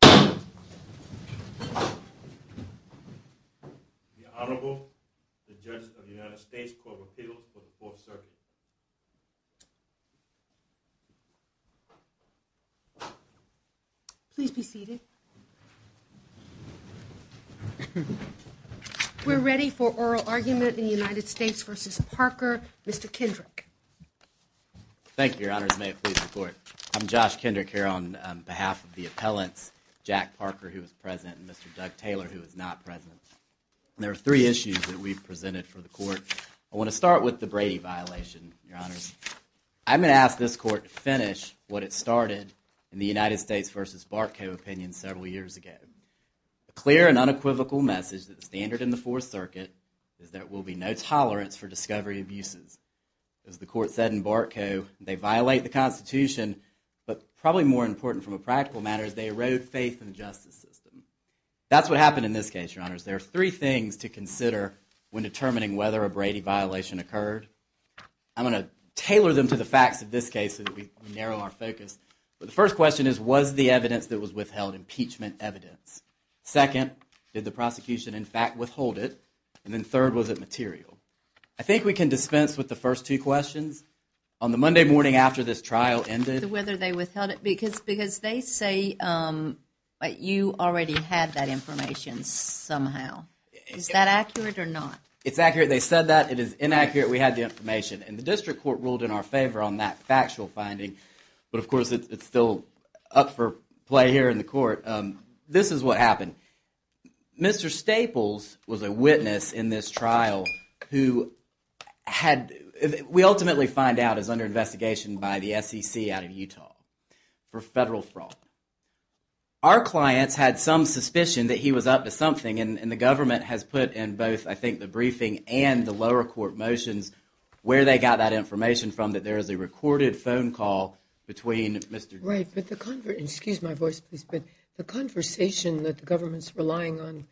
The Honorable, the Judge of the United States Court of Appeals for the Fourth Circuit. We're ready for oral argument in United States v. Parker. Mr. Kendrick. Thank you, Your Honors. May it please the Court. I'm Josh Kendrick here on behalf of the appellants, Jack Parker, who is present, and Mr. Doug Taylor, who is not present. There are three issues that we've presented for the Court. I want to start with the Brady violation, Your Honors. I'm going to ask this Court to finish what it started in the United States v. Barkow opinion several years ago. A clear and unequivocal message that the standard in the Fourth Circuit is that there will be no tolerance for discovery abuses. As the Court said in Barkow, they violate the Constitution, but probably more important from a practical matter is they erode faith in the justice system. That's what happened in this case, Your Honors. There are three things to consider when determining whether a Brady violation occurred. I'm going to tailor them to the facts of this case so that we narrow our focus. The first question is, was the evidence that was withheld impeachment evidence? Second, did the prosecution, in fact, withhold it? And then third, was it material? I think we can dispense with the first two questions. On the Monday morning after this trial ended. Whether they withheld it, because they say that you already had that information somehow. Is that accurate or not? It's accurate. They said that. It is inaccurate. We had the information. And the District Court ruled in our favor on that factual finding. But, of course, it's still up for play here in the Court. This is what happened. Mr. Staples was a witness in this trial who had, we ultimately find out, is under investigation by the SEC out of Utah for federal fraud. Our clients had some suspicion that he was up to something. And the government has put in both, I think, the briefing and the lower court motions, where they got that information from, that there is a recorded phone call between Mr. Staples. Right, but the conversation that the government's relying on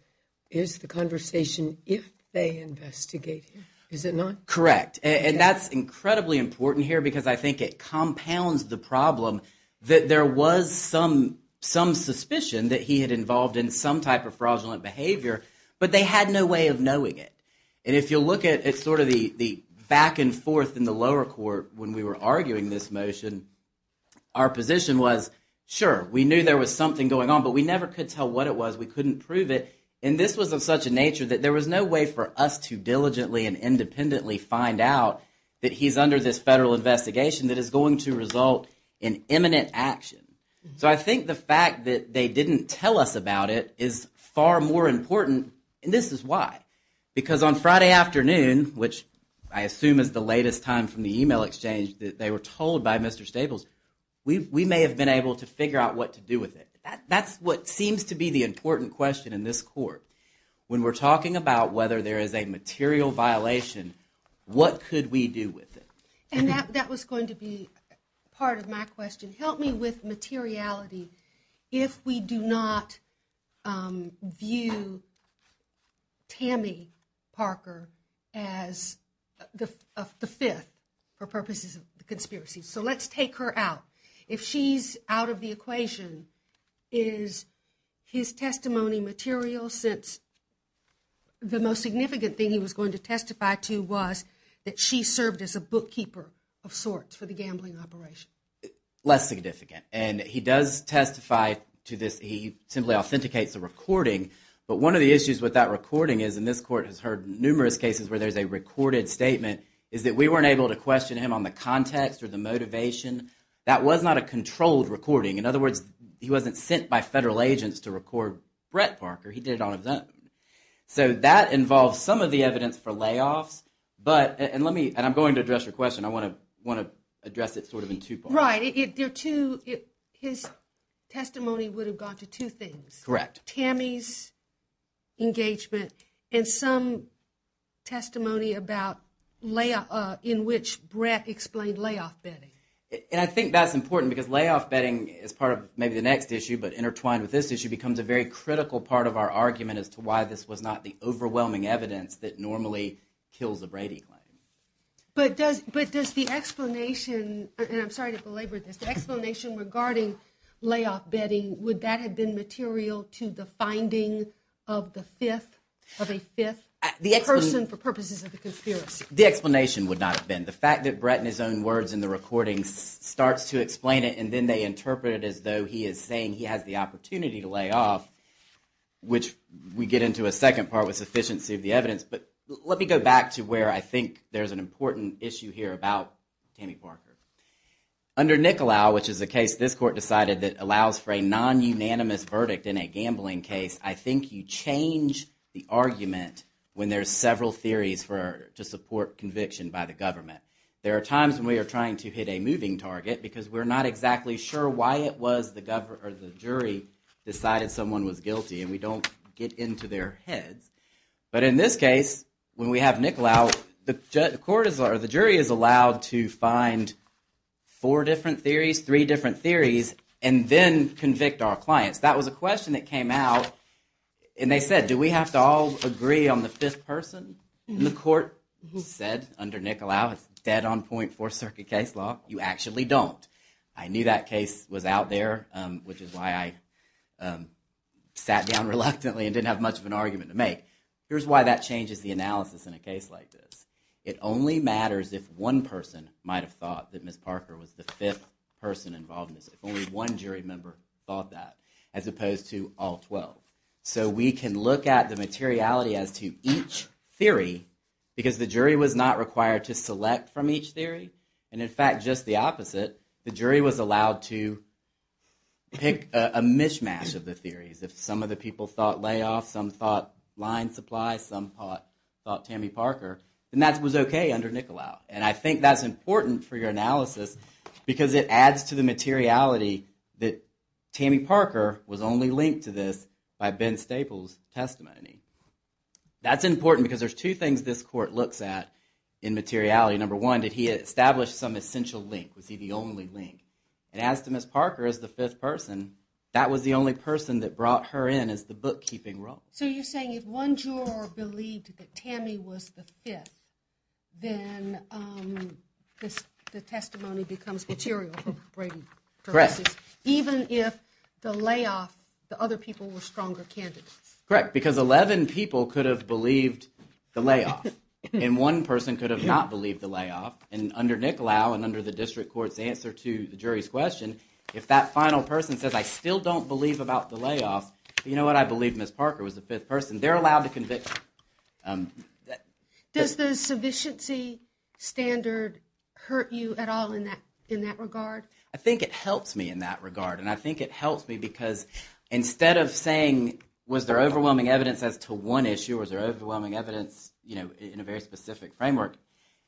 is the conversation if they investigate him. Is it not? Correct. And that's incredibly important here because I think it compounds the problem that there was some suspicion that he had involved in some type of fraudulent behavior, but they had no way of knowing it. And if you look at sort of the back and forth in the lower court when we were arguing this motion, our position was, sure, we knew there was something going on, but we never could tell what it was. We couldn't prove it. And this was of such a nature that there was no way for us to diligently and independently find out that he's under this federal investigation that is going to result in imminent action. So I think the fact that they didn't tell us about it is far more important. And this is why. Because on Friday afternoon, which I assume is the latest time from the email exchange that they were told by Mr. Staples, we may have been able to figure out what to do with it. That's what seems to be the important question in this court. When we're talking about whether there is a material violation, what could we do with it? And that was going to be part of my question. Help me with materiality if we do not view Tammy Parker as the fifth for purposes of the conspiracy. So let's take her out. If she's out of the equation, is his testimony material since the most significant thing he was going to testify to was that she served as a bookkeeper of sorts for the gambling operation? Less significant. And he does testify to this. He simply authenticates the recording. But one of the issues with that recording is, and this court has heard numerous cases where there's a recorded statement, is that we weren't able to question him on the context or the motivation. That was not a controlled recording. In other words, he wasn't sent by federal agents to record Brett Parker. He did it on his own. So that involves some of the evidence for layoffs. And I'm going to address your question. I want to address it sort of in two parts. Right. His testimony would have gone to two things. Correct. Tammy's engagement and some testimony about layoff in which Brett explained layoff betting. And I think that's important because layoff betting is part of maybe the next issue, but intertwined with this issue becomes a very critical part of our argument as to why this was not the overwhelming evidence that normally kills a Brady claim. But does the explanation, and I'm sorry to belabor this, the explanation regarding layoff betting, would that have been material to the finding of the fifth, of a fifth person for purposes of the conspiracy? The explanation would not have been. The fact that Brett in his own words in the recording starts to explain it, and then they interpret it as though he is saying he has the opportunity to lay off, which we get into a second part with sufficiency of the evidence. But let me go back to where I think there's an important issue here about Tammy Parker. Under Nicolau, which is a case this court decided that allows for a non-unanimous verdict in a gambling case, I think you change the argument when there's several theories to support conviction by the government. There are times when we are trying to hit a moving target because we're not exactly sure why it was the jury decided someone was guilty, and we don't get into their heads. But in this case, when we have Nicolau, the jury is allowed to find four different theories, three different theories, and then convict our clients. That was a question that came out, and they said, do we have to all agree on the fifth person? The court said under Nicolau it's dead on point for circuit case law. You actually don't. I knew that case was out there, which is why I sat down reluctantly and didn't have much of an argument to make. Here's why that changes the analysis in a case like this. It only matters if one person might have thought that Ms. Parker was the fifth person involved in this, if only one jury member thought that, as opposed to all 12. So we can look at the materiality as to each theory because the jury was not required to select from each theory. And in fact, just the opposite. The jury was allowed to pick a mishmash of the theories. If some of the people thought Layoff, some thought Line Supply, some thought Tammy Parker, then that was okay under Nicolau. And I think that's important for your analysis because it adds to the materiality that Tammy Parker was only linked to this by Ben Staple's testimony. That's important because there's two things this court looks at in materiality. Number one, did he establish some essential link? Was he the only link? And as to Ms. Parker as the fifth person, that was the only person that brought her in as the bookkeeping role. So you're saying if one juror believed that Tammy was the fifth, then the testimony becomes material for Brady. Correct. Even if the Layoff, the other people were stronger candidates. Correct, because 11 people could have believed the Layoff and one person could have not believed the Layoff. And under Nicolau and under the district court's answer to the jury's question, if that final person says, I still don't believe about the Layoff, you know what, I believe Ms. Parker was the fifth person, they're allowed to convict. Does the sufficiency standard hurt you at all in that regard? I think it helps me in that regard. And I think it helps me because instead of saying, was there overwhelming evidence as to one issue, was there overwhelming evidence in a very specific framework,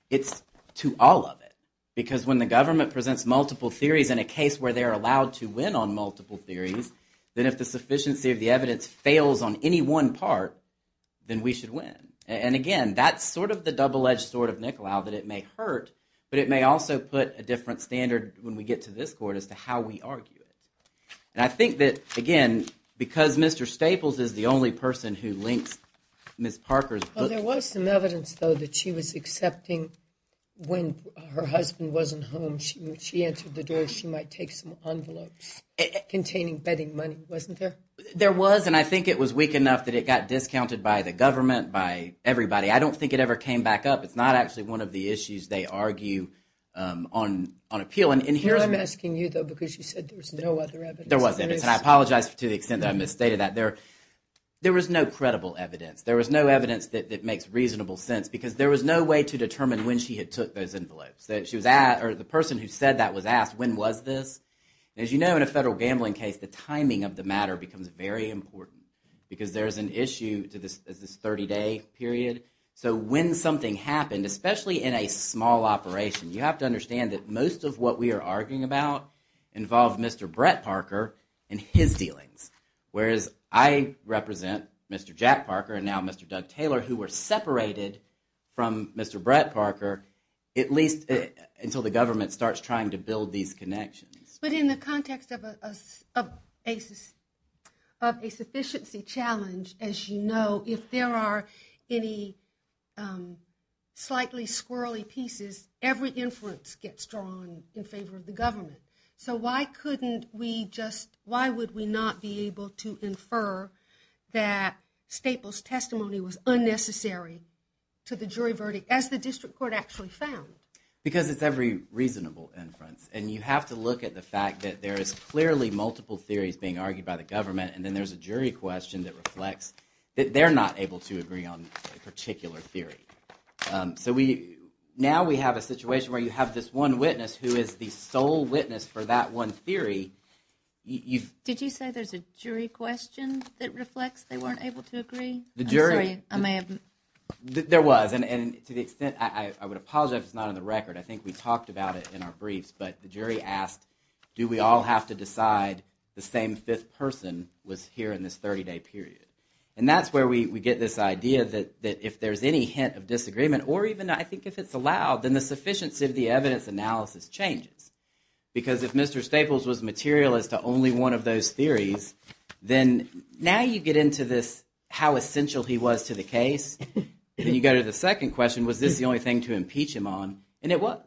it's to all of it. Because when the government presents multiple theories in a case where they're allowed to win on multiple theories, then if the sufficiency of the evidence fails on any one part, then we should win. And again, that's sort of the double-edged sword of Nicolau, that it may hurt, but it may also put a different standard when we get to this court as to how we argue it. And I think that, again, because Mr. Staples is the only person who links Ms. Parker's book... Well, there was some evidence, though, that she was accepting when her husband wasn't home, she answered the door, she might take some envelopes containing betting money, wasn't there? There was, and I think it was weak enough that it got discounted by the government, by everybody. I don't think it ever came back up. It's not actually one of the issues they argue on appeal. Here I'm asking you, though, because you said there was no other evidence. There was evidence, and I apologize to the extent that I misstated that. There was no credible evidence. There was no evidence that makes reasonable sense, because there was no way to determine when she had took those envelopes. The person who said that was asked, when was this? As you know, in a federal gambling case, the timing of the matter becomes very important, because there's an issue to this 30-day period. So when something happened, especially in a small operation, you have to understand that most of what we are arguing about involved Mr. Brett Parker and his dealings, whereas I represent Mr. Jack Parker and now Mr. Doug Taylor, who were separated from Mr. Brett Parker at least until the government starts trying to build these connections. But in the context of a sufficiency challenge, as you know, if there are any slightly squirrely pieces, every inference gets drawn in favor of the government. So why would we not be able to infer that Staples' testimony was unnecessary to the jury verdict, as the district court actually found? Because it's every reasonable inference, and you have to look at the fact that there is clearly multiple theories being argued by the government, and then there's a jury question that reflects that they're not able to agree on a particular theory. So now we have a situation where you have this one witness who is the sole witness for that one theory. Did you say there's a jury question that reflects they weren't able to agree? The jury – I'm sorry, I may have – There was, and to the extent – I would apologize if it's not on the record. I think we talked about it in our briefs, but the jury asked, do we all have to decide the same fifth person was here in this 30-day period? And that's where we get this idea that if there's any hint of disagreement, or even I think if it's allowed, then the sufficiency of the evidence analysis changes. Because if Mr. Staples was materialist to only one of those theories, then now you get into this how essential he was to the case, and you go to the second question, was this the only thing to impeach him on, and it was.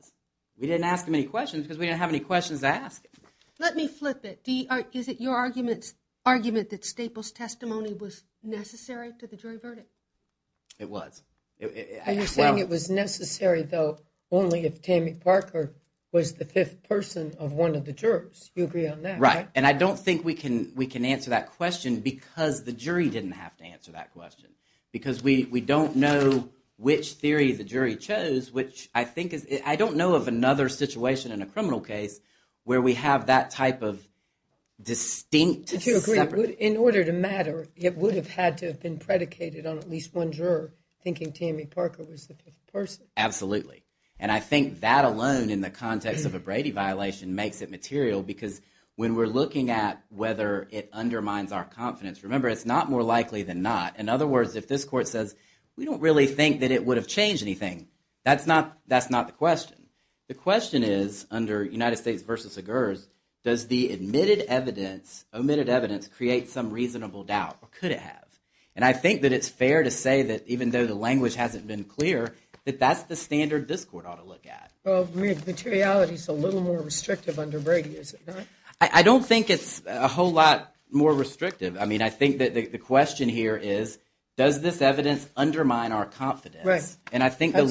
We didn't ask him any questions because we didn't have any questions to ask. Let me flip it. Is it your argument that Staples' testimony was necessary to the jury verdict? It was. Are you saying it was necessary, though, only if Tammy Parker was the fifth person of one of the jurors? You agree on that, right? Right, and I don't think we can answer that question because the jury didn't have to answer that question. Because we don't know which theory the jury chose, which I don't know of another situation in a criminal case where we have that type of distinct. But you agree, in order to matter, it would have had to have been predicated on at least one juror thinking Tammy Parker was the fifth person. Absolutely. And I think that alone in the context of a Brady violation makes it material because when we're looking at whether it undermines our confidence, remember it's not more likely than not. In other words, if this court says, we don't really think that it would have changed anything, that's not the question. The question is, under United States v. Agurz, does the omitted evidence create some reasonable doubt, or could it have? And I think that it's fair to say that even though the language hasn't been clear, that that's the standard this court ought to look at. Well, materiality is a little more restrictive under Brady, is it not? I don't think it's a whole lot more restrictive. I mean, I think that the question here is, does this evidence undermine our confidence? Right. I think the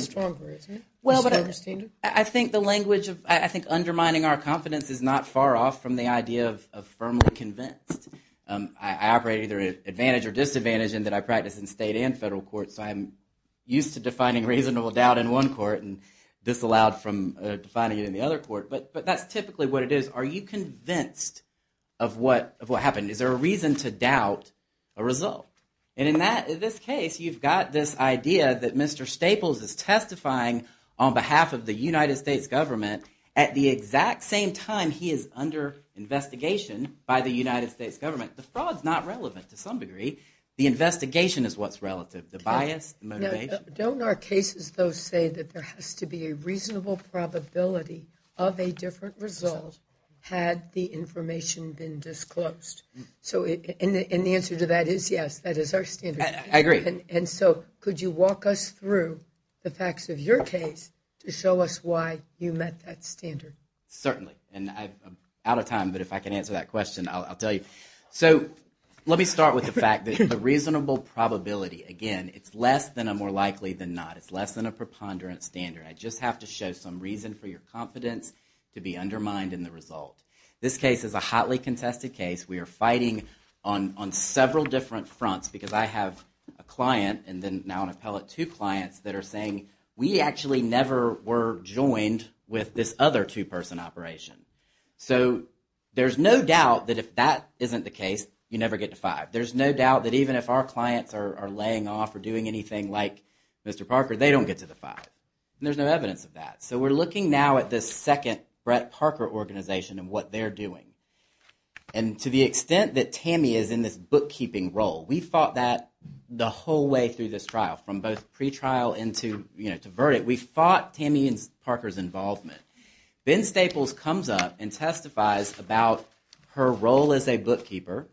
language of undermining our confidence is not far off from the idea of firmly convinced. I operate either at advantage or disadvantage in that I practice in state and federal courts, so I'm used to defining reasonable doubt in one court and disallowed from defining it in the other court. But that's typically what it is. Are you convinced of what happened? Is there a reason to doubt a result? And in this case, you've got this idea that Mr. Staples is testifying on behalf of the United States government at the exact same time he is under investigation by the United States government. The fraud's not relevant to some degree. The investigation is what's relative, the bias, the motivation. Don't our cases, though, say that there has to be a reasonable probability of a different result had the information been disclosed? And the answer to that is yes. That is our standard. I agree. And so could you walk us through the facts of your case to show us why you met that standard? Certainly. And I'm out of time, but if I can answer that question, I'll tell you. So let me start with the fact that the reasonable probability, again, it's less than a more likely than not. It's less than a preponderant standard. I just have to show some reason for your confidence to be undermined in the result. This case is a hotly contested case. We are fighting on several different fronts because I have a client and then now an appellate two clients that are saying, we actually never were joined with this other two-person operation. So there's no doubt that if that isn't the case, you never get to five. There's no doubt that even if our clients are laying off or doing anything like Mr. Parker, they don't get to the five. And there's no evidence of that. So we're looking now at this second Brett Parker organization and what they're doing. And to the extent that Tammy is in this bookkeeping role, we fought that the whole way through this trial from both pre-trial into, you know, to verdict. We fought Tammy and Parker's involvement. Ben Staples comes up and testifies about her role as a bookkeeper,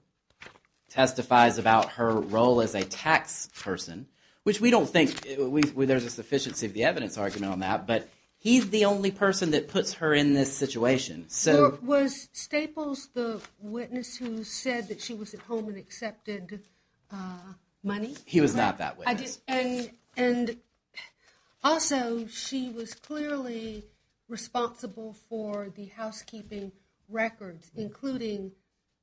testifies about her role as a tax person, which we don't think there's a sufficiency of the evidence argument on that, but he's the only person that puts her in this situation. So was Staples the witness who said that she was at home and accepted money? He was not that witness. And also she was clearly responsible for the housekeeping records, including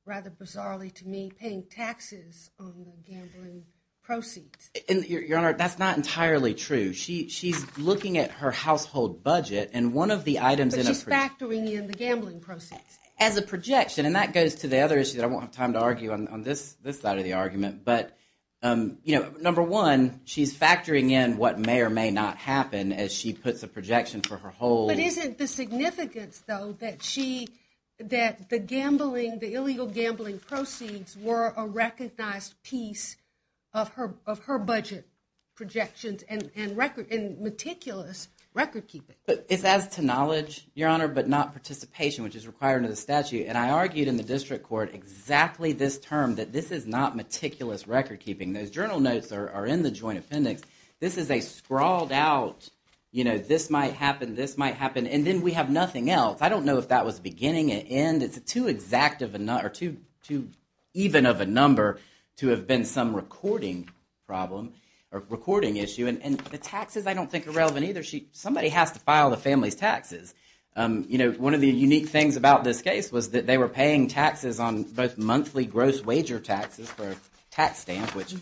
rather bizarrely to me, paying taxes on the gambling proceeds. Your Honor, that's not entirely true. She's looking at her household budget and one of the items in a- She's factoring in the gambling proceeds. As a projection. And that goes to the other issue that I won't have time to argue on this side of the argument. But, you know, number one, she's factoring in what may or may not happen as she puts a projection for her whole- But isn't the significance, though, that she, that the gambling, the illegal gambling proceeds were a recognized piece of her budget projections and meticulous recordkeeping? It's as to knowledge, Your Honor, but not participation, which is required under the statute. And I argued in the district court exactly this term, that this is not meticulous recordkeeping. Those journal notes are in the joint appendix. This is a scrawled out, you know, this might happen, this might happen, and then we have nothing else. I don't know if that was beginning and end. It's too exact of a- or too even of a number to have been some recording problem or recording issue. And the taxes I don't think are relevant either. Somebody has to file the family's taxes. You know, one of the unique things about this case was that they were paying taxes on both monthly gross wager taxes for a tax stamp, which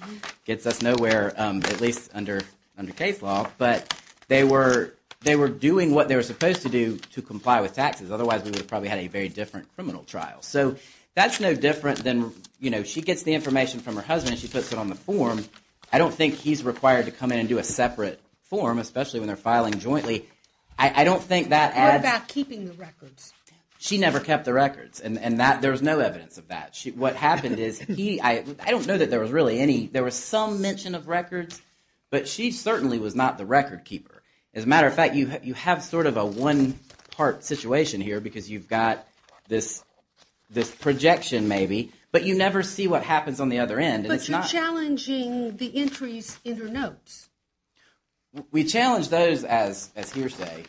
gets us nowhere, at least under case law, but they were doing what they were supposed to do to comply with taxes. Otherwise, we would have probably had a very different criminal trial. So that's no different than, you know, she gets the information from her husband and she puts it on the form. I don't think he's required to come in and do a separate form, especially when they're filing jointly. I don't think that adds- What about keeping the records? She never kept the records, and there's no evidence of that. What happened is he- I don't know that there was really any- there was some mention of records, but she certainly was not the record keeper. As a matter of fact, you have sort of a one-part situation here because you've got this projection maybe, but you never see what happens on the other end. But you're challenging the entries in her notes. We challenge those as hearsay.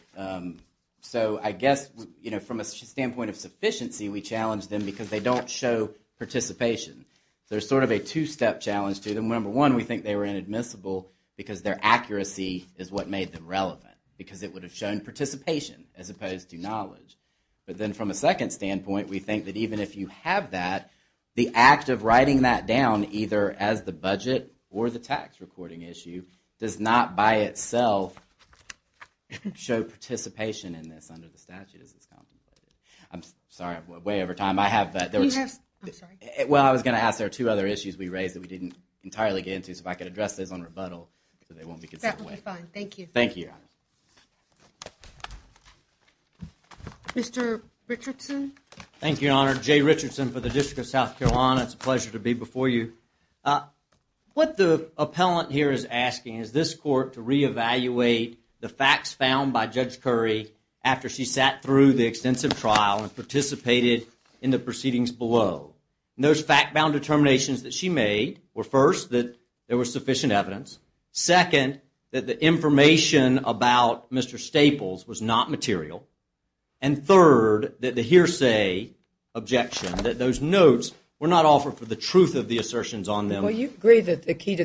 So I guess, you know, from a standpoint of sufficiency, we challenge them because they don't show participation. There's sort of a two-step challenge to them. Number one, we think they were inadmissible because their accuracy is what made them relevant, because it would have shown participation as opposed to knowledge. But then from a second standpoint, we think that even if you have that, the act of writing that down either as the budget or the tax recording issue does not by itself show participation in this under the statute as it's contemplated. I'm sorry, I'm way over time. I have- You have- I'm sorry. Well, I was going to ask, there are two other issues we raised that we didn't entirely get into, so if I could address those on rebuttal so they won't be considered- That would be fine. Thank you. Thank you, Your Honor. Mr. Richardson? Thank you, Your Honor. Jay Richardson for the District of South Carolina. It's a pleasure to be before you. What the appellant here is asking is this court to re-evaluate the facts found by Judge Curry after she sat through the extensive trial and participated in the proceedings below. And those fact-bound determinations that she made were, first, that there was sufficient evidence, second, that the information about Mr. Staples was not material, and third, that the hearsay objection, that those notes were not offered for the truth of the assertions on them- Well, you agree that the key to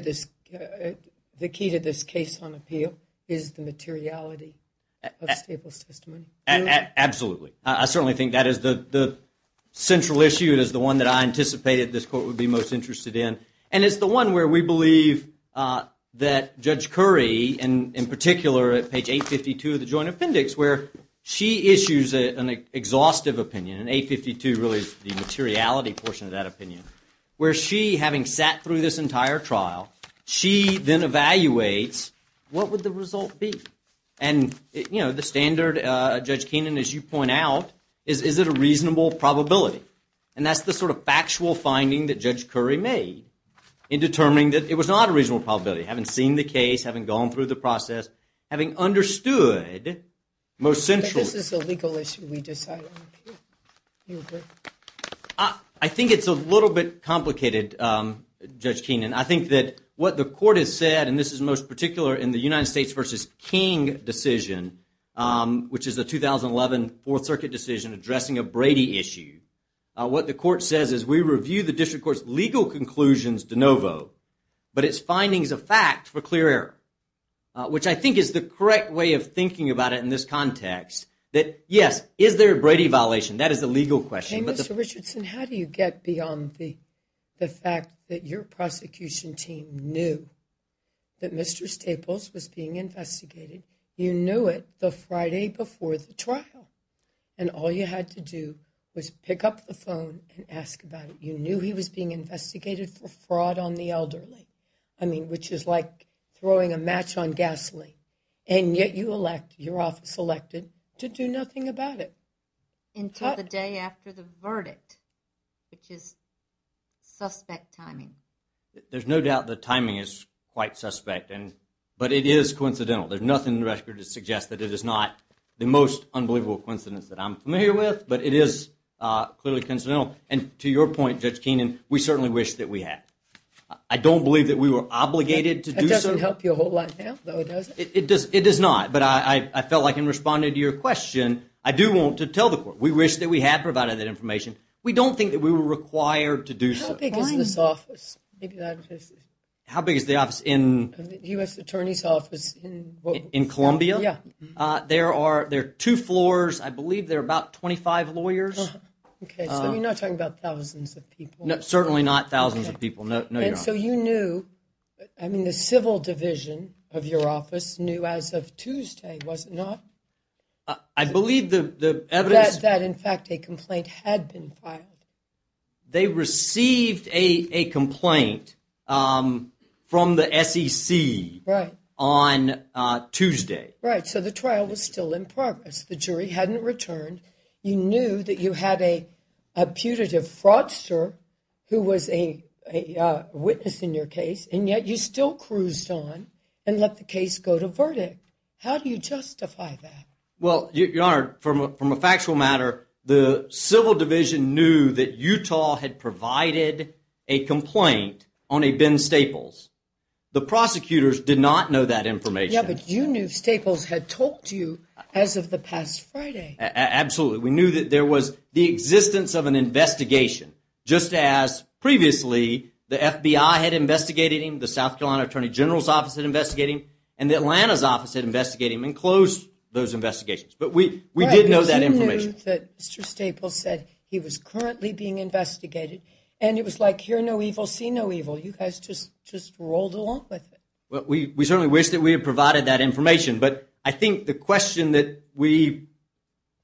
this case on appeal is the materiality of Staples' testimony? Absolutely. I certainly think that is the central issue. It is the one that I anticipated this court would be most interested in. And it's the one where we believe that Judge Curry, in particular at page 852 of the joint appendix, where she issues an exhaustive opinion, and 852 really is the materiality portion of that opinion, where she, having sat through this entire trial, she then evaluates, what would the result be? And the standard, Judge Keenan, as you point out, is, is it a reasonable probability? And that's the sort of factual finding that Judge Curry made in determining that it was not a reasonable probability, having seen the case, having gone through the process, having understood most centrally- But this is a legal issue, we decide on appeal. You agree? I think it's a little bit complicated, Judge Keenan. I think that what the court has said, and this is most particular in the United States v. King decision, which is a 2011 Fourth Circuit decision addressing a Brady issue, what the court says is, we review the district court's legal conclusions de novo, but its findings are fact for clear error. Which I think is the correct way of thinking about it in this context, that, yes, is there a Brady violation? That is the legal question. Mr. Richardson, how do you get beyond the fact that your prosecution team knew that Mr. Staples was being investigated? You knew it the Friday before the trial, and all you had to do was pick up the phone and ask about it. You knew he was being investigated for fraud on the elderly, which is like throwing a match on gasoline. And yet you elect, your office elected, to do nothing about it. Until the day after the verdict, which is suspect timing. There's no doubt the timing is quite suspect, but it is coincidental. There's nothing in the record that suggests that it is not the most unbelievable coincidence that I'm familiar with, but it is clearly coincidental. And to your point, Judge Keenan, we certainly wish that we had. I don't believe that we were obligated to do so. It doesn't help you a whole lot now, though, does it? It does not, but I felt like in responding to your question, I do want to tell the court we wish that we had provided that information. We don't think that we were required to do so. How big is this office? How big is the office in? U.S. Attorney's Office in what? In Columbia? Yeah. There are two floors. I believe there are about 25 lawyers. Okay, so you're not talking about thousands of people. Certainly not thousands of people, no, Your Honor. And so you knew, I mean, the civil division of your office knew as of Tuesday, was it not? I believe the evidence. That, in fact, a complaint had been filed. They received a complaint from the SEC on Tuesday. Right, so the trial was still in progress. The jury hadn't returned. You knew that you had a putative fraudster who was a witness in your case, and yet you still cruised on and let the case go to verdict. How do you justify that? Well, Your Honor, from a factual matter, the civil division knew that Utah had provided a complaint on a Ben Staples. The prosecutors did not know that information. Yeah, but you knew Staples had talked to you as of the past Friday. Absolutely. We knew that there was the existence of an investigation, just as previously the FBI had investigated him, the South Carolina Attorney General's Office had investigated him, and the Atlanta's Office had investigated him and closed those investigations. But we did know that information. But you knew that Mr. Staples said he was currently being investigated, and it was like hear no evil, see no evil. You guys just rolled along with it. Well, we certainly wish that we had provided that information, but I think the question that we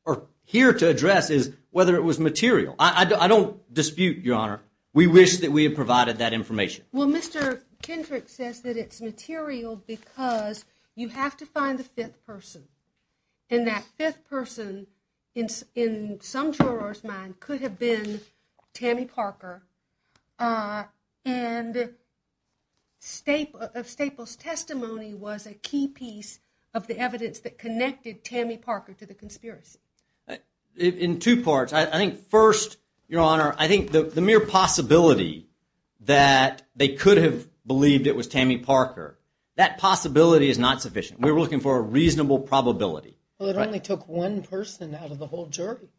are here to address is whether it was material. I don't dispute, Your Honor. We wish that we had provided that information. Well, Mr. Kendrick says that it's material because you have to find the fifth person, and that fifth person in some jurors' mind could have been Tammy Parker, and Staples' testimony was a key piece of the evidence that connected Tammy Parker to the conspiracy. In two parts. I think first, Your Honor, I think the mere possibility that they could have believed it was Tammy Parker, that possibility is not sufficient. We were looking for a reasonable probability. Well, it only took one person out of the whole jury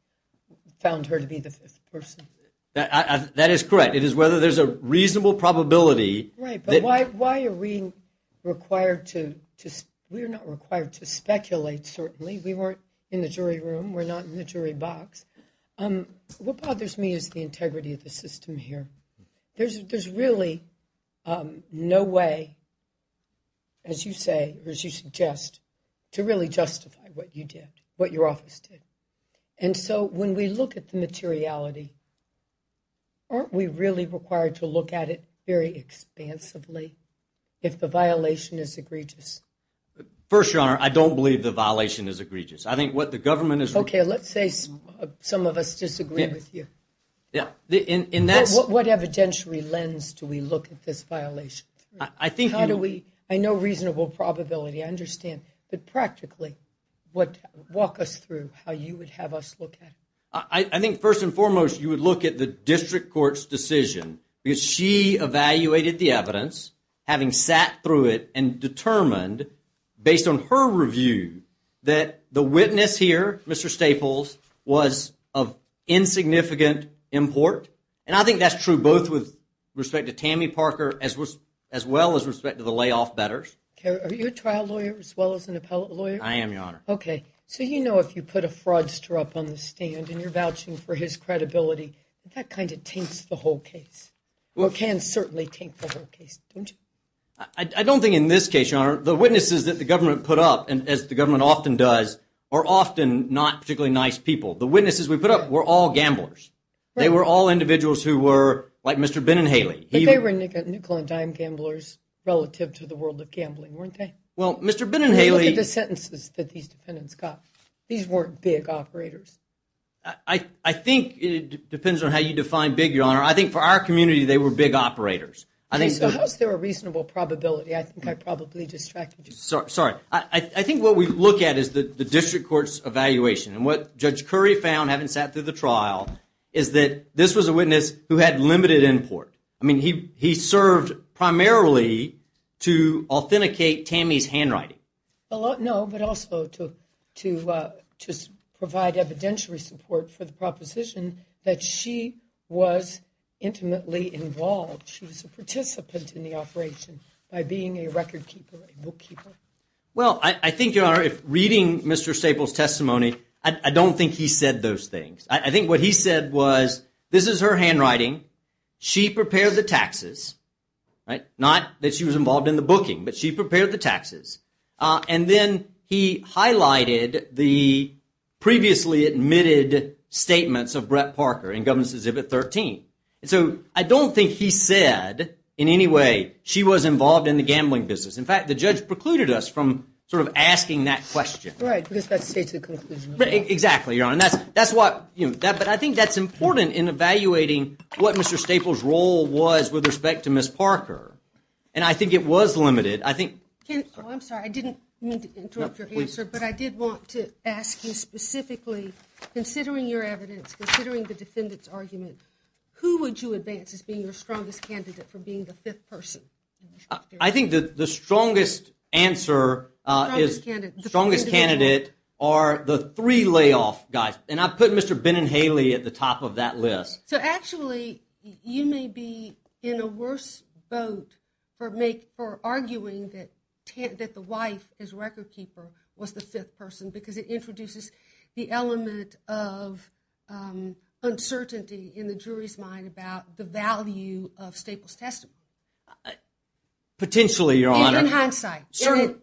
who found her to be the fifth person. That is correct. It is whether there's a reasonable probability. Right, but why are we required to – we are not required to speculate, certainly. We weren't in the jury room. We're not in the jury box. What bothers me is the integrity of the system here. There's really no way, as you say or as you suggest, to really justify what you did, what your office did. And so when we look at the materiality, aren't we really required to look at it very expansively if the violation is egregious? First, Your Honor, I don't believe the violation is egregious. I think what the government is – Okay, let's say some of us disagree with you. What evidentiary lens do we look at this violation through? But practically, walk us through how you would have us look at it. I think first and foremost, you would look at the district court's decision because she evaluated the evidence, having sat through it and determined, based on her review, that the witness here, Mr. Staples, was of insignificant import. And I think that's true both with respect to Tammy Parker as well as respect to the layoff bettors. Are you a trial lawyer as well as an appellate lawyer? I am, Your Honor. Okay. So you know if you put a fraudster up on the stand and you're vouching for his credibility, that kind of taints the whole case. Well, it can certainly taint the whole case, don't you? I don't think in this case, Your Honor, the witnesses that the government put up, as the government often does, are often not particularly nice people. The witnesses we put up were all gamblers. They were all individuals who were like Mr. Ben and Haley. But they were nickel and dime gamblers relative to the world of gambling, weren't they? Well, Mr. Ben and Haley— Look at the sentences that these defendants got. These weren't big operators. I think it depends on how you define big, Your Honor. I think for our community, they were big operators. So how is there a reasonable probability? I think I probably distracted you. Sorry. I think what we look at is the district court's evaluation. And what Judge Curry found, having sat through the trial, is that this was a witness who had limited import. I mean, he served primarily to authenticate Tammy's handwriting. No, but also to provide evidentiary support for the proposition that she was intimately involved. She was a participant in the operation by being a record keeper, a bookkeeper. Well, I think, Your Honor, reading Mr. Staple's testimony, I don't think he said those things. I think what he said was, this is her handwriting. She prepared the taxes. Not that she was involved in the booking, but she prepared the taxes. And then he highlighted the previously admitted statements of Brett Parker in Governor's Exhibit 13. So I don't think he said in any way she was involved in the gambling business. In fact, the judge precluded us from sort of asking that question. Right, because that states the conclusion. Exactly, Your Honor. But I think that's important in evaluating what Mr. Staple's role was with respect to Ms. Parker. And I think it was limited. I'm sorry, I didn't mean to interrupt your answer, but I did want to ask you specifically, considering your evidence, considering the defendant's argument, who would you advance as being your strongest candidate for being the fifth person? I think that the strongest answer is, strongest candidate are the three layoff guys. And I put Mr. Benin-Haley at the top of that list. So actually, you may be in a worse boat for arguing that the wife, his record keeper, was the fifth person, because it introduces the element of uncertainty in the jury's mind about the value of Staple's testimony. Potentially, Your Honor. And in hindsight. Sure.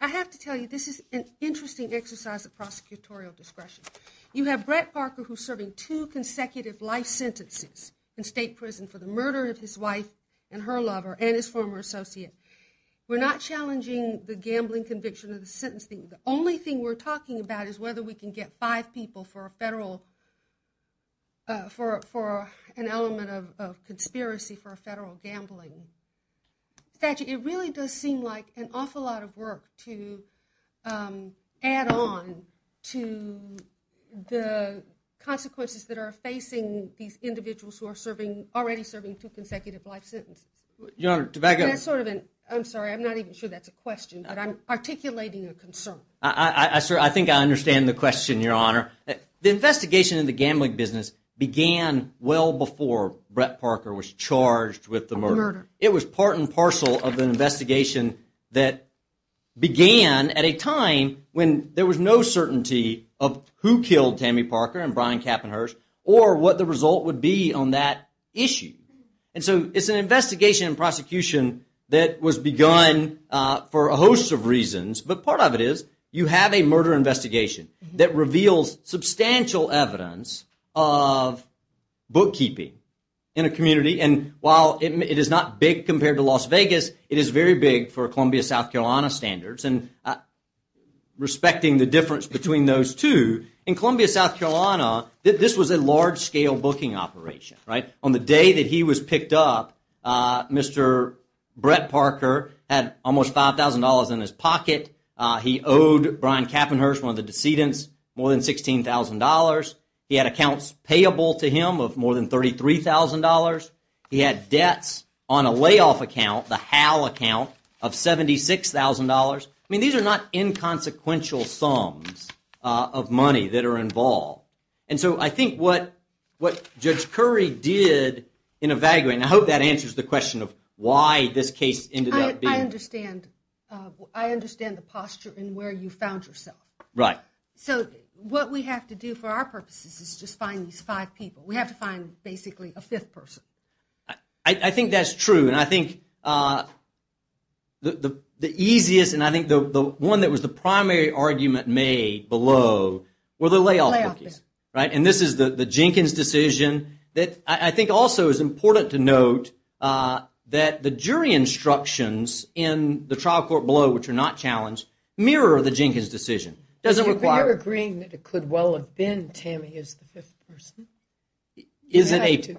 I have to tell you, this is an interesting exercise of prosecutorial discretion. You have Brett Parker who's serving two consecutive life sentences in state prison for the murder of his wife and her lover and his former associate. We're not challenging the gambling conviction of the sentencing. The only thing we're talking about is whether we can get five people for a federal, for an element of conspiracy for a federal gambling statute. It really does seem like an awful lot of work to add on to the consequences that are facing these individuals who are already serving two consecutive life sentences. Your Honor, tobacco. That's sort of an, I'm sorry, I'm not even sure that's a question, but I'm articulating a concern. I think I understand the question, Your Honor. The investigation in the gambling business began well before Brett Parker was charged with the murder. It was part and parcel of an investigation that began at a time when there was no certainty of who killed Tammy Parker and Brian Kapp and hers or what the result would be on that issue. It's an investigation and prosecution that was begun for a host of reasons, but part of it is you have a murder investigation that reveals substantial evidence of bookkeeping in a community. While it is not big compared to Las Vegas, it is very big for Columbia, South Carolina standards. Respecting the difference between those two, in Columbia, South Carolina, this was a large-scale booking operation. On the day that he was picked up, Mr. Brett Parker had almost $5,000 in his pocket. He owed Brian Kapp and hers, one of the decedents, more than $16,000. He had accounts payable to him of more than $33,000. He had debts on a layoff account, the HAL account, of $76,000. I mean, these are not inconsequential sums of money that are involved. And so I think what Judge Curry did in a vagrant, and I hope that answers the question of why this case ended up being. I understand the posture and where you found yourself. Right. So what we have to do for our purposes is just find these five people. We have to find, basically, a fifth person. I think that's true. And I think the easiest, and I think the one that was the primary argument made below, were the layoff bookings. And this is the Jenkins decision. I think also it's important to note that the jury instructions in the trial court below, which are not challenged, mirror the Jenkins decision. If you're agreeing that it could well have been Tammy as the fifth person. Is it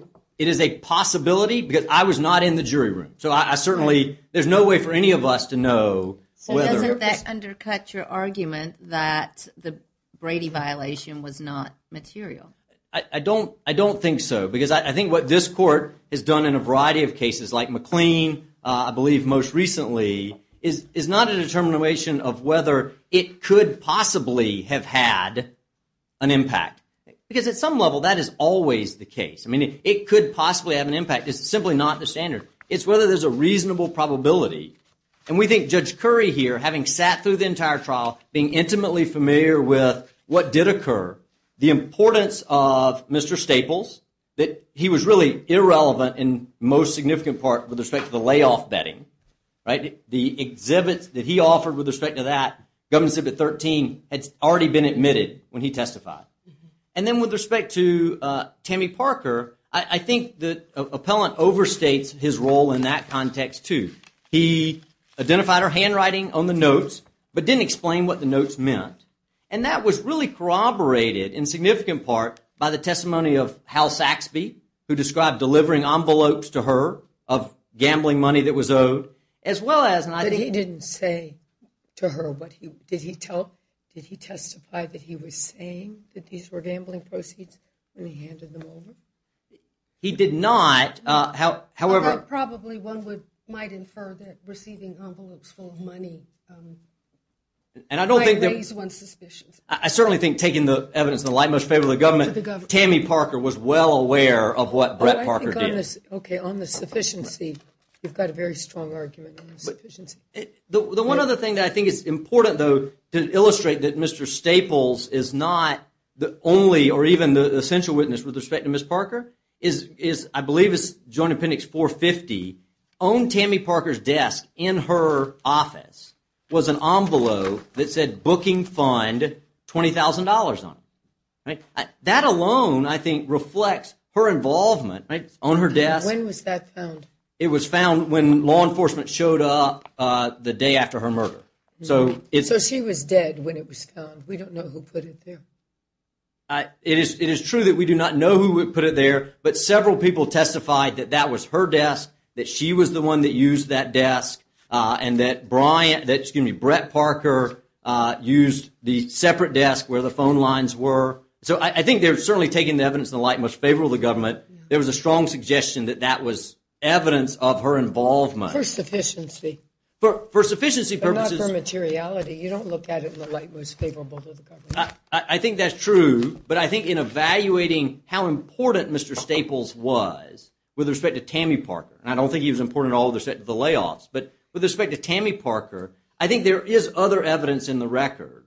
a possibility? Because I was not in the jury room. So I certainly, there's no way for any of us to know. So doesn't that undercut your argument that the Brady violation was not material? I don't think so. Because I think what this court has done in a variety of cases, like McLean, I believe most recently, is not a determination of whether it could possibly have had an impact. Because at some level, that is always the case. I mean, it could possibly have an impact. It's simply not the standard. It's whether there's a reasonable probability. And we think Judge Curry here, having sat through the entire trial, being intimately familiar with what did occur, the importance of Mr. Staples, that he was really irrelevant in the most significant part with respect to the layoff betting. The exhibits that he offered with respect to that, Governor's Exhibit 13, had already been admitted when he testified. And then with respect to Tammy Parker, I think the appellant overstates his role in that context too. He identified her handwriting on the notes, but didn't explain what the notes meant. And that was really corroborated in significant part by the testimony of Hal Saxby, who described delivering envelopes to her of gambling money that was owed. But he didn't say to her, did he testify that he was saying that these were gambling proceeds and he handed them over? He did not. Probably one might infer that receiving envelopes full of money might raise one's suspicions. I certainly think, taking the evidence in the light most favorable to the government, Tammy Parker was well aware of what Brett Parker did. Okay, on the sufficiency, you've got a very strong argument on the sufficiency. The one other thing that I think is important, though, to illustrate that Mr. Staples is not the only, or even the essential witness with respect to Ms. Parker, is I believe it's Joint Appendix 450. On Tammy Parker's desk in her office was an envelope that said booking fund $20,000 on it. That alone, I think, reflects her involvement on her desk. When was that found? It was found when law enforcement showed up the day after her murder. So she was dead when it was found. We don't know who put it there. It is true that we do not know who put it there, but several people testified that that was her desk, that she was the one that used that desk, and that Brett Parker used the separate desk where the phone lines were. So I think they're certainly taking the evidence in the light most favorable to the government. There was a strong suggestion that that was evidence of her involvement. For sufficiency. For sufficiency purposes. But not for materiality. You don't look at it in the light most favorable to the government. I think that's true, but I think in evaluating how important Mr. Staples was with respect to Tammy Parker, and I don't think he was important at all with respect to the layoffs, but with respect to Tammy Parker, I think there is other evidence in the record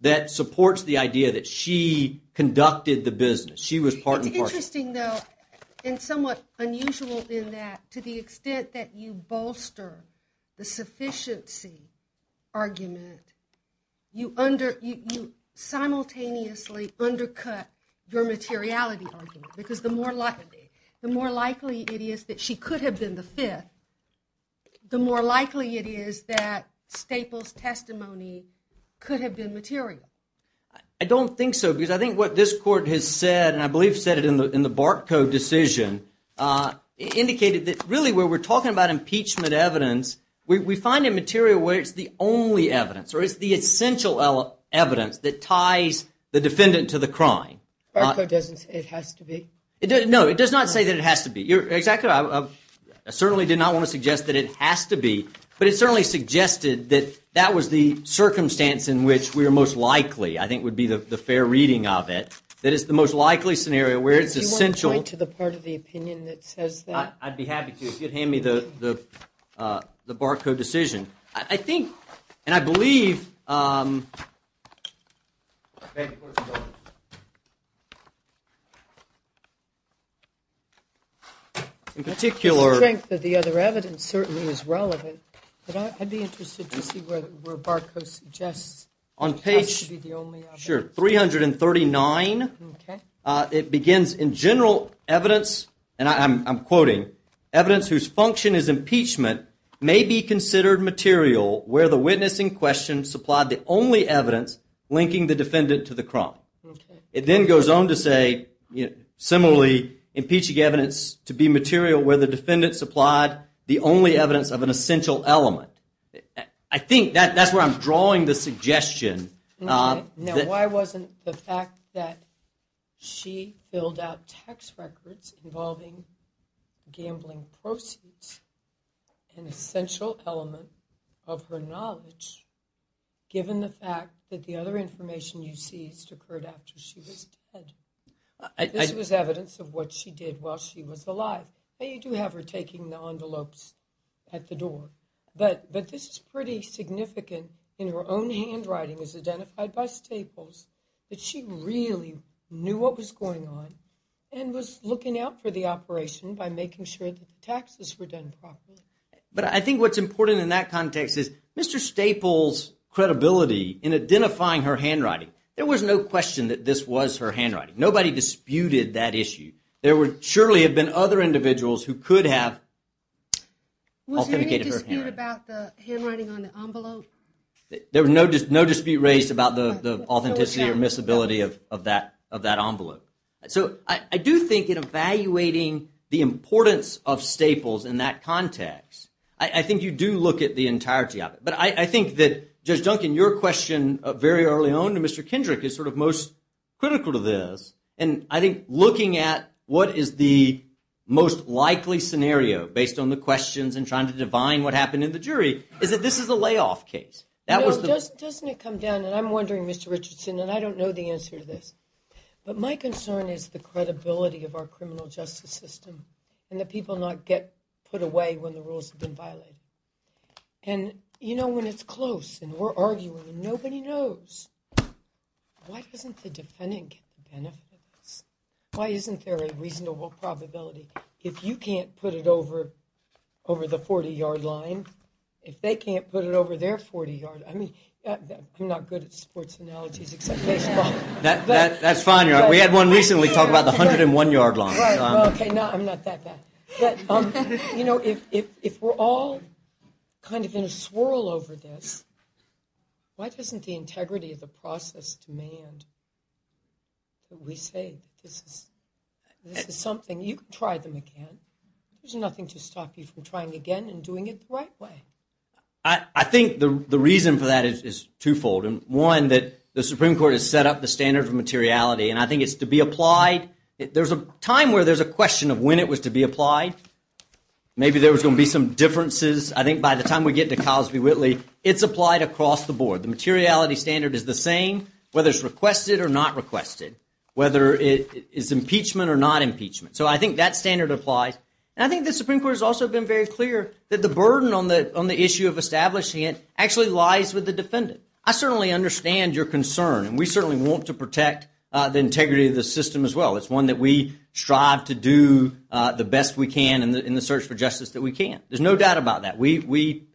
that supports the idea that she conducted the business. She was part and parcel. It's interesting, though, and somewhat unusual in that to the extent that you bolster the sufficiency argument, you simultaneously undercut your materiality argument, because the more likely it is that she could have been the fifth, the more likely it is that Staples' testimony could have been material. I don't think so, because I think what this court has said, and I believe said it in the BART code decision, indicated that really where we're talking about impeachment evidence, we find a material where it's the only evidence or it's the essential evidence that ties the defendant to the crime. BART code doesn't say it has to be? No, it does not say that it has to be. Exactly. I certainly did not want to suggest that it has to be, but it certainly suggested that that was the circumstance in which we were most likely, I think would be the fair reading of it, that it's the most likely scenario where it's essential. Do you want to point to the part of the opinion that says that? I'd be happy to if you'd hand me the BART code decision. I think, and I believe, in particular- The strength of the other evidence certainly is relevant, but I'd be interested to see where BART code suggests it has to be the only evidence. Sure, page 339, it begins, In general evidence, and I'm quoting, Evidence whose function is impeachment may be considered material where the witness in question supplied the only evidence linking the defendant to the crime. It then goes on to say, similarly, Impeaching evidence to be material where the defendant supplied the only evidence of an essential element. I think that's where I'm drawing the suggestion. Now, why wasn't the fact that she filled out tax records involving gambling proceeds an essential element of her knowledge, given the fact that the other information you seized occurred after she was dead? This was evidence of what she did while she was alive. Now, you do have her taking the envelopes at the door, but this is pretty significant in her own handwriting, as identified by Staples, that she really knew what was going on and was looking out for the operation by making sure that the taxes were done properly. But I think what's important in that context is Mr. Staples' credibility in identifying her handwriting. There was no question that this was her handwriting. Nobody disputed that issue. There would surely have been other individuals who could have authenticated her handwriting. Was there any dispute about the handwriting on the envelope? There was no dispute raised about the authenticity or miscibility of that envelope. So I do think in evaluating the importance of Staples in that context, I think you do look at the entirety of it. But I think that, Judge Duncan, your question very early on to Mr. Kendrick is sort of most critical to this. And I think looking at what is the most likely scenario, based on the questions and trying to divine what happened in the jury, is that this is a layoff case. Doesn't it come down, and I'm wondering, Mr. Richardson, and I don't know the answer to this, but my concern is the credibility of our criminal justice system and the people not get put away when the rules have been violated. And, you know, when it's close and we're arguing and nobody knows, why doesn't the defendant get the benefits? Why isn't there a reasonable probability? If you can't put it over the 40-yard line, if they can't put it over their 40 yards, I mean, I'm not good at sports analogies except baseball. That's fine. We had one recently talk about the 101-yard line. Okay, no, I'm not that bad. You know, if we're all kind of in a swirl over this, why doesn't the integrity of the process demand that we say this is something? You can try them again. There's nothing to stop you from trying again and doing it the right way. I think the reason for that is twofold. One, that the Supreme Court has set up the standards of materiality, and I think it's to be applied. There's a time where there's a question of when it was to be applied. Maybe there was going to be some differences. I think by the time we get to Cosby-Whitley, it's applied across the board. The materiality standard is the same whether it's requested or not requested, whether it is impeachment or not impeachment. So I think that standard applies. And I think the Supreme Court has also been very clear that the burden on the issue of establishing it actually lies with the defendant. I certainly understand your concern, and we certainly want to protect the integrity of the system as well. It's one that we strive to do the best we can in the search for justice that we can. There's no doubt about that. We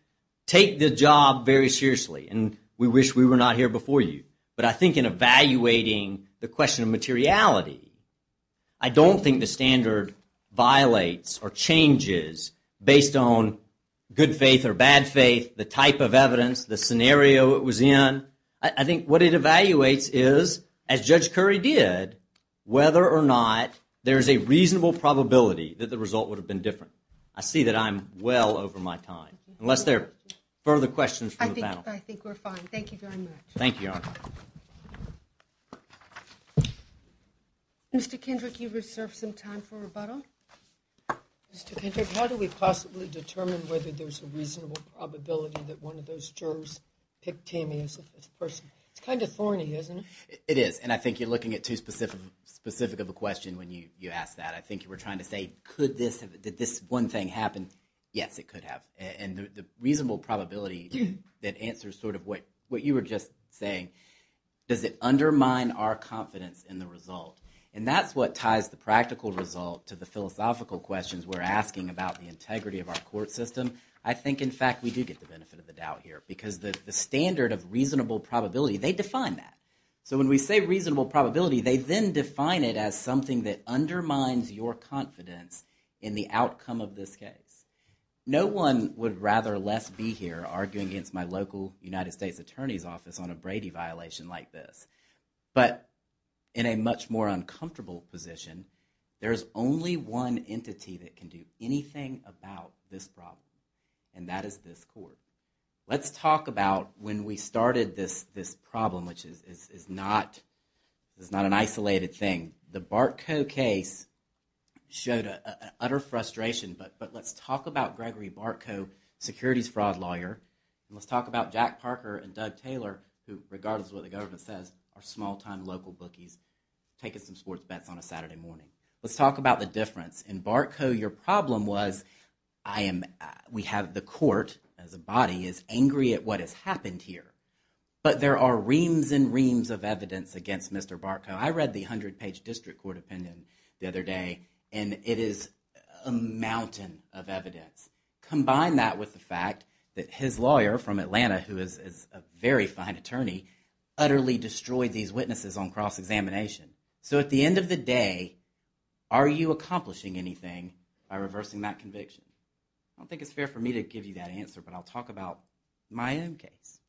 take the job very seriously, and we wish we were not here before you. But I think in evaluating the question of materiality, I don't think the standard violates or changes based on good faith or bad faith, the type of evidence, the scenario it was in. I think what it evaluates is, as Judge Curry did, whether or not there is a reasonable probability that the result would have been different. I see that I'm well over my time, unless there are further questions from the panel. I think we're fine. Thank you very much. Thank you, Your Honor. Mr. Kendrick, you reserve some time for rebuttal. Mr. Kendrick, how do we possibly determine whether there's a reasonable probability that one of those jurors picked Tammy as the person? It's kind of thorny, isn't it? It is, and I think you're looking at too specific of a question when you ask that. I think you were trying to say, could this, did this one thing happen? Yes, it could have. And the reasonable probability that answers sort of what you were just saying, does it undermine our confidence in the result? And that's what ties the practical result to the philosophical questions we're asking about the integrity of our court system. I think, in fact, we do get the benefit of the doubt here, because the standard of reasonable probability, they define that. So when we say reasonable probability, they then define it as something that undermines your confidence in the outcome of this case. No one would rather or less be here arguing against my local United States Attorney's Office on a Brady violation like this. But in a much more uncomfortable position, there's only one entity that can do anything about this problem, and that is this court. Let's talk about when we started this problem, which is not an isolated thing. The Bartco case showed utter frustration, but let's talk about Gregory Bartco, securities fraud lawyer. Let's talk about Jack Parker and Doug Taylor, who, regardless of what the government says, are small-time local bookies taking some sports bets on a Saturday morning. Let's talk about the difference. In Bartco, your problem was, I am, we have the court as a body is angry at what has happened here. But there are reams and reams of evidence against Mr. Bartco. I read the 100-page district court opinion the other day, and it is a mountain of evidence. Combine that with the fact that his lawyer from Atlanta, who is a very fine attorney, utterly destroyed these witnesses on cross-examination. So at the end of the day, are you accomplishing anything by reversing that conviction? I don't think it's fair for me to give you that answer, but I'll talk about my own case,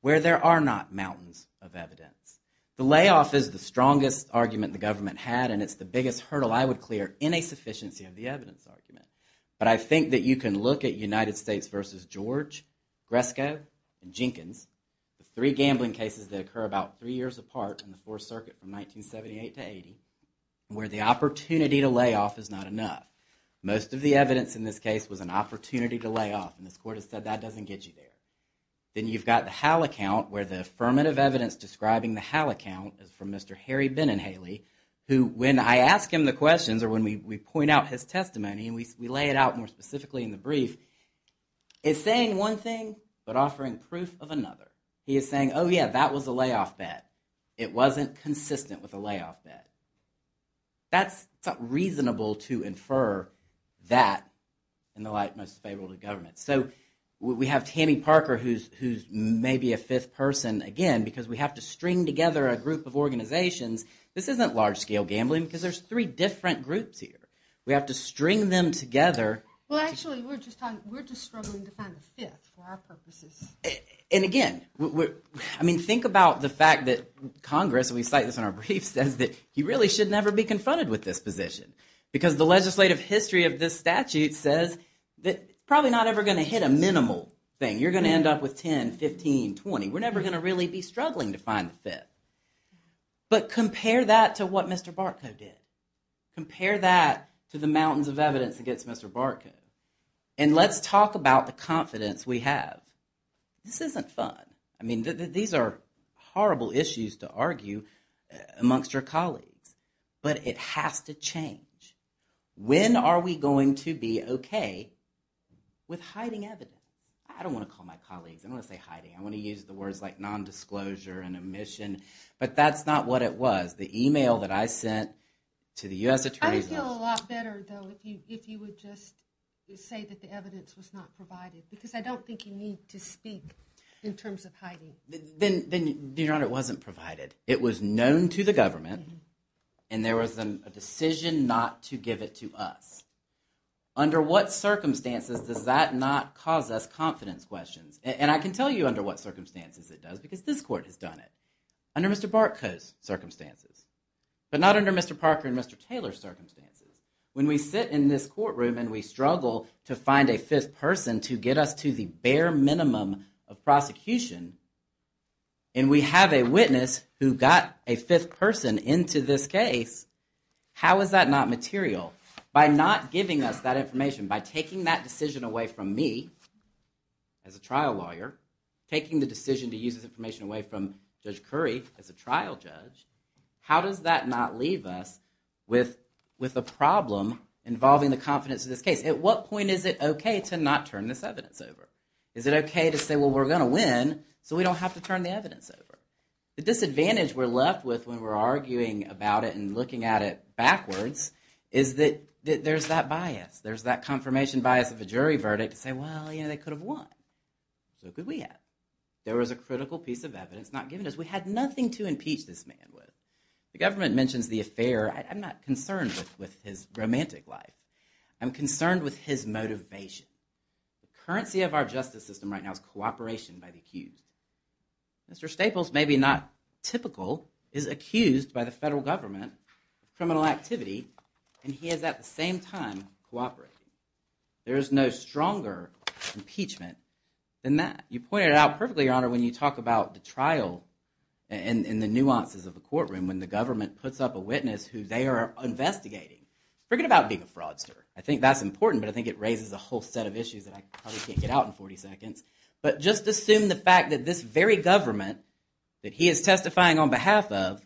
where there are not mountains of evidence. The layoff is the strongest argument the government had, and it's the biggest hurdle I would clear in a sufficiency of the evidence argument. But I think that you can look at United States v. George, Gresco, and Jenkins, the three gambling cases that occur about three years apart in the Fourth Circuit from 1978 to 1980, where the opportunity to layoff is not enough. Most of the evidence in this case was an opportunity to layoff, and this court has said that doesn't get you there. Then you've got the HAL account, where the affirmative evidence describing the HAL account is from Mr. Harry Beninhaley, who, when I ask him the questions, or when we point out his testimony, and we lay it out more specifically in the brief, is saying one thing, but offering proof of another. He is saying, oh yeah, that was a layoff bet. It wasn't consistent with a layoff bet. That's not reasonable to infer that in the light most favorable to government. So we have Tammy Parker, who's maybe a fifth person, again, because we have to string together a group of organizations. This isn't large-scale gambling, because there's three different groups here. We have to string them together. Well, actually, we're just struggling to find a fifth for our purposes. And again, I mean, think about the fact that Congress, and we cite this in our brief, says that you really should never be confronted with this position, because the legislative history of this statute says that it's probably not ever going to hit a minimal thing. You're going to end up with 10, 15, 20. We're never going to really be struggling to find a fifth. But compare that to what Mr. Barkow did. Compare that to the mountains of evidence against Mr. Barkow. And let's talk about the confidence we have. This isn't fun. I mean, these are horrible issues to argue amongst your colleagues. But it has to change. When are we going to be okay with hiding evidence? I don't want to call my colleagues. I don't want to say hiding. I want to use the words like nondisclosure and omission. But that's not what it was. The email that I sent to the U.S. Attorney's Office. I would feel a lot better, though, if you would just say that the evidence was not provided, because I don't think you need to speak in terms of hiding. Then, Your Honor, it wasn't provided. It was known to the government, and there was a decision not to give it to us. Under what circumstances does that not cause us confidence questions? And I can tell you under what circumstances it does, because this court has done it. Under Mr. Barkow's circumstances. But not under Mr. Parker and Mr. Taylor's circumstances. When we sit in this courtroom and we struggle to find a fifth person to get us to the bare minimum of prosecution, and we have a witness who got a fifth person into this case, how is that not material? By not giving us that information, by taking that decision away from me, as a trial lawyer, taking the decision to use this information away from Judge Curry, as a trial judge, how does that not leave us with a problem involving the confidence of this case? At what point is it okay to not turn this evidence over? Is it okay to say, well, we're going to win, so we don't have to turn the evidence over? The disadvantage we're left with when we're arguing about it and looking at it backwards is that there's that bias. There's that bias of a jury verdict to say, well, you know, they could have won. So could we have. There was a critical piece of evidence not given to us. We had nothing to impeach this man with. The government mentions the affair. I'm not concerned with his romantic life. I'm concerned with his motivation. The currency of our justice system right now is cooperation by the accused. Mr. Staples, maybe not typical, is accused by the federal government of criminal activity, and he is at the same time cooperating. There is no stronger impeachment than that. You pointed it out perfectly, Your Honor, when you talk about the trial and the nuances of the courtroom when the government puts up a witness who they are investigating. Forget about being a fraudster. I think that's important, but I think it raises a whole set of issues that I probably can't get out in 40 seconds. But just assume the fact that this very government that he is testifying on behalf of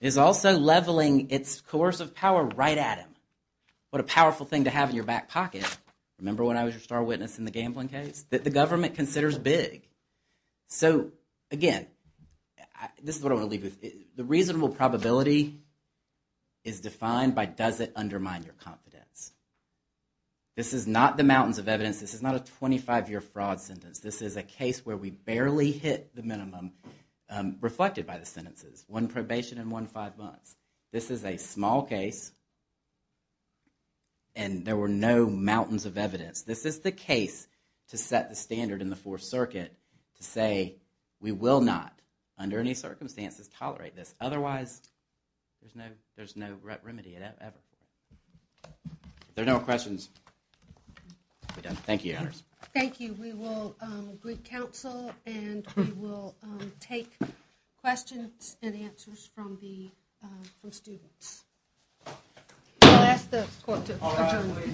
is also leveling its coercive power right at him. What a powerful thing to have in your back pocket. Remember when I was your star witness in the gambling case? That the government considers big. So, again, this is what I want to leave you with. The reasonable probability is defined by does it undermine your confidence. This is not the mountains of evidence. This is not a 25-year fraud sentence. This is a case where we barely hit the minimum reflected by the sentences. One probation and one five months. This is a small case and there were no mountains of evidence. This is the case to set the standard in the Fourth Circuit to say we will not, under any circumstances, tolerate this. Otherwise, there's no remedy at all. If there are no questions, we're done. Thank you, Your Honors. Thank you. We will greet counsel and we will take questions and answers from the students. I'll ask the court to adjourn. All rise. Thank you.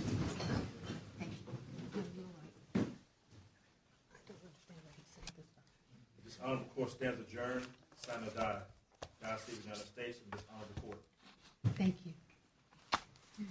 Good Lord. I don't understand what he's saying. The dishonorable court stands adjourned. Senator Dias of the United States in dishonorable court. Thank you.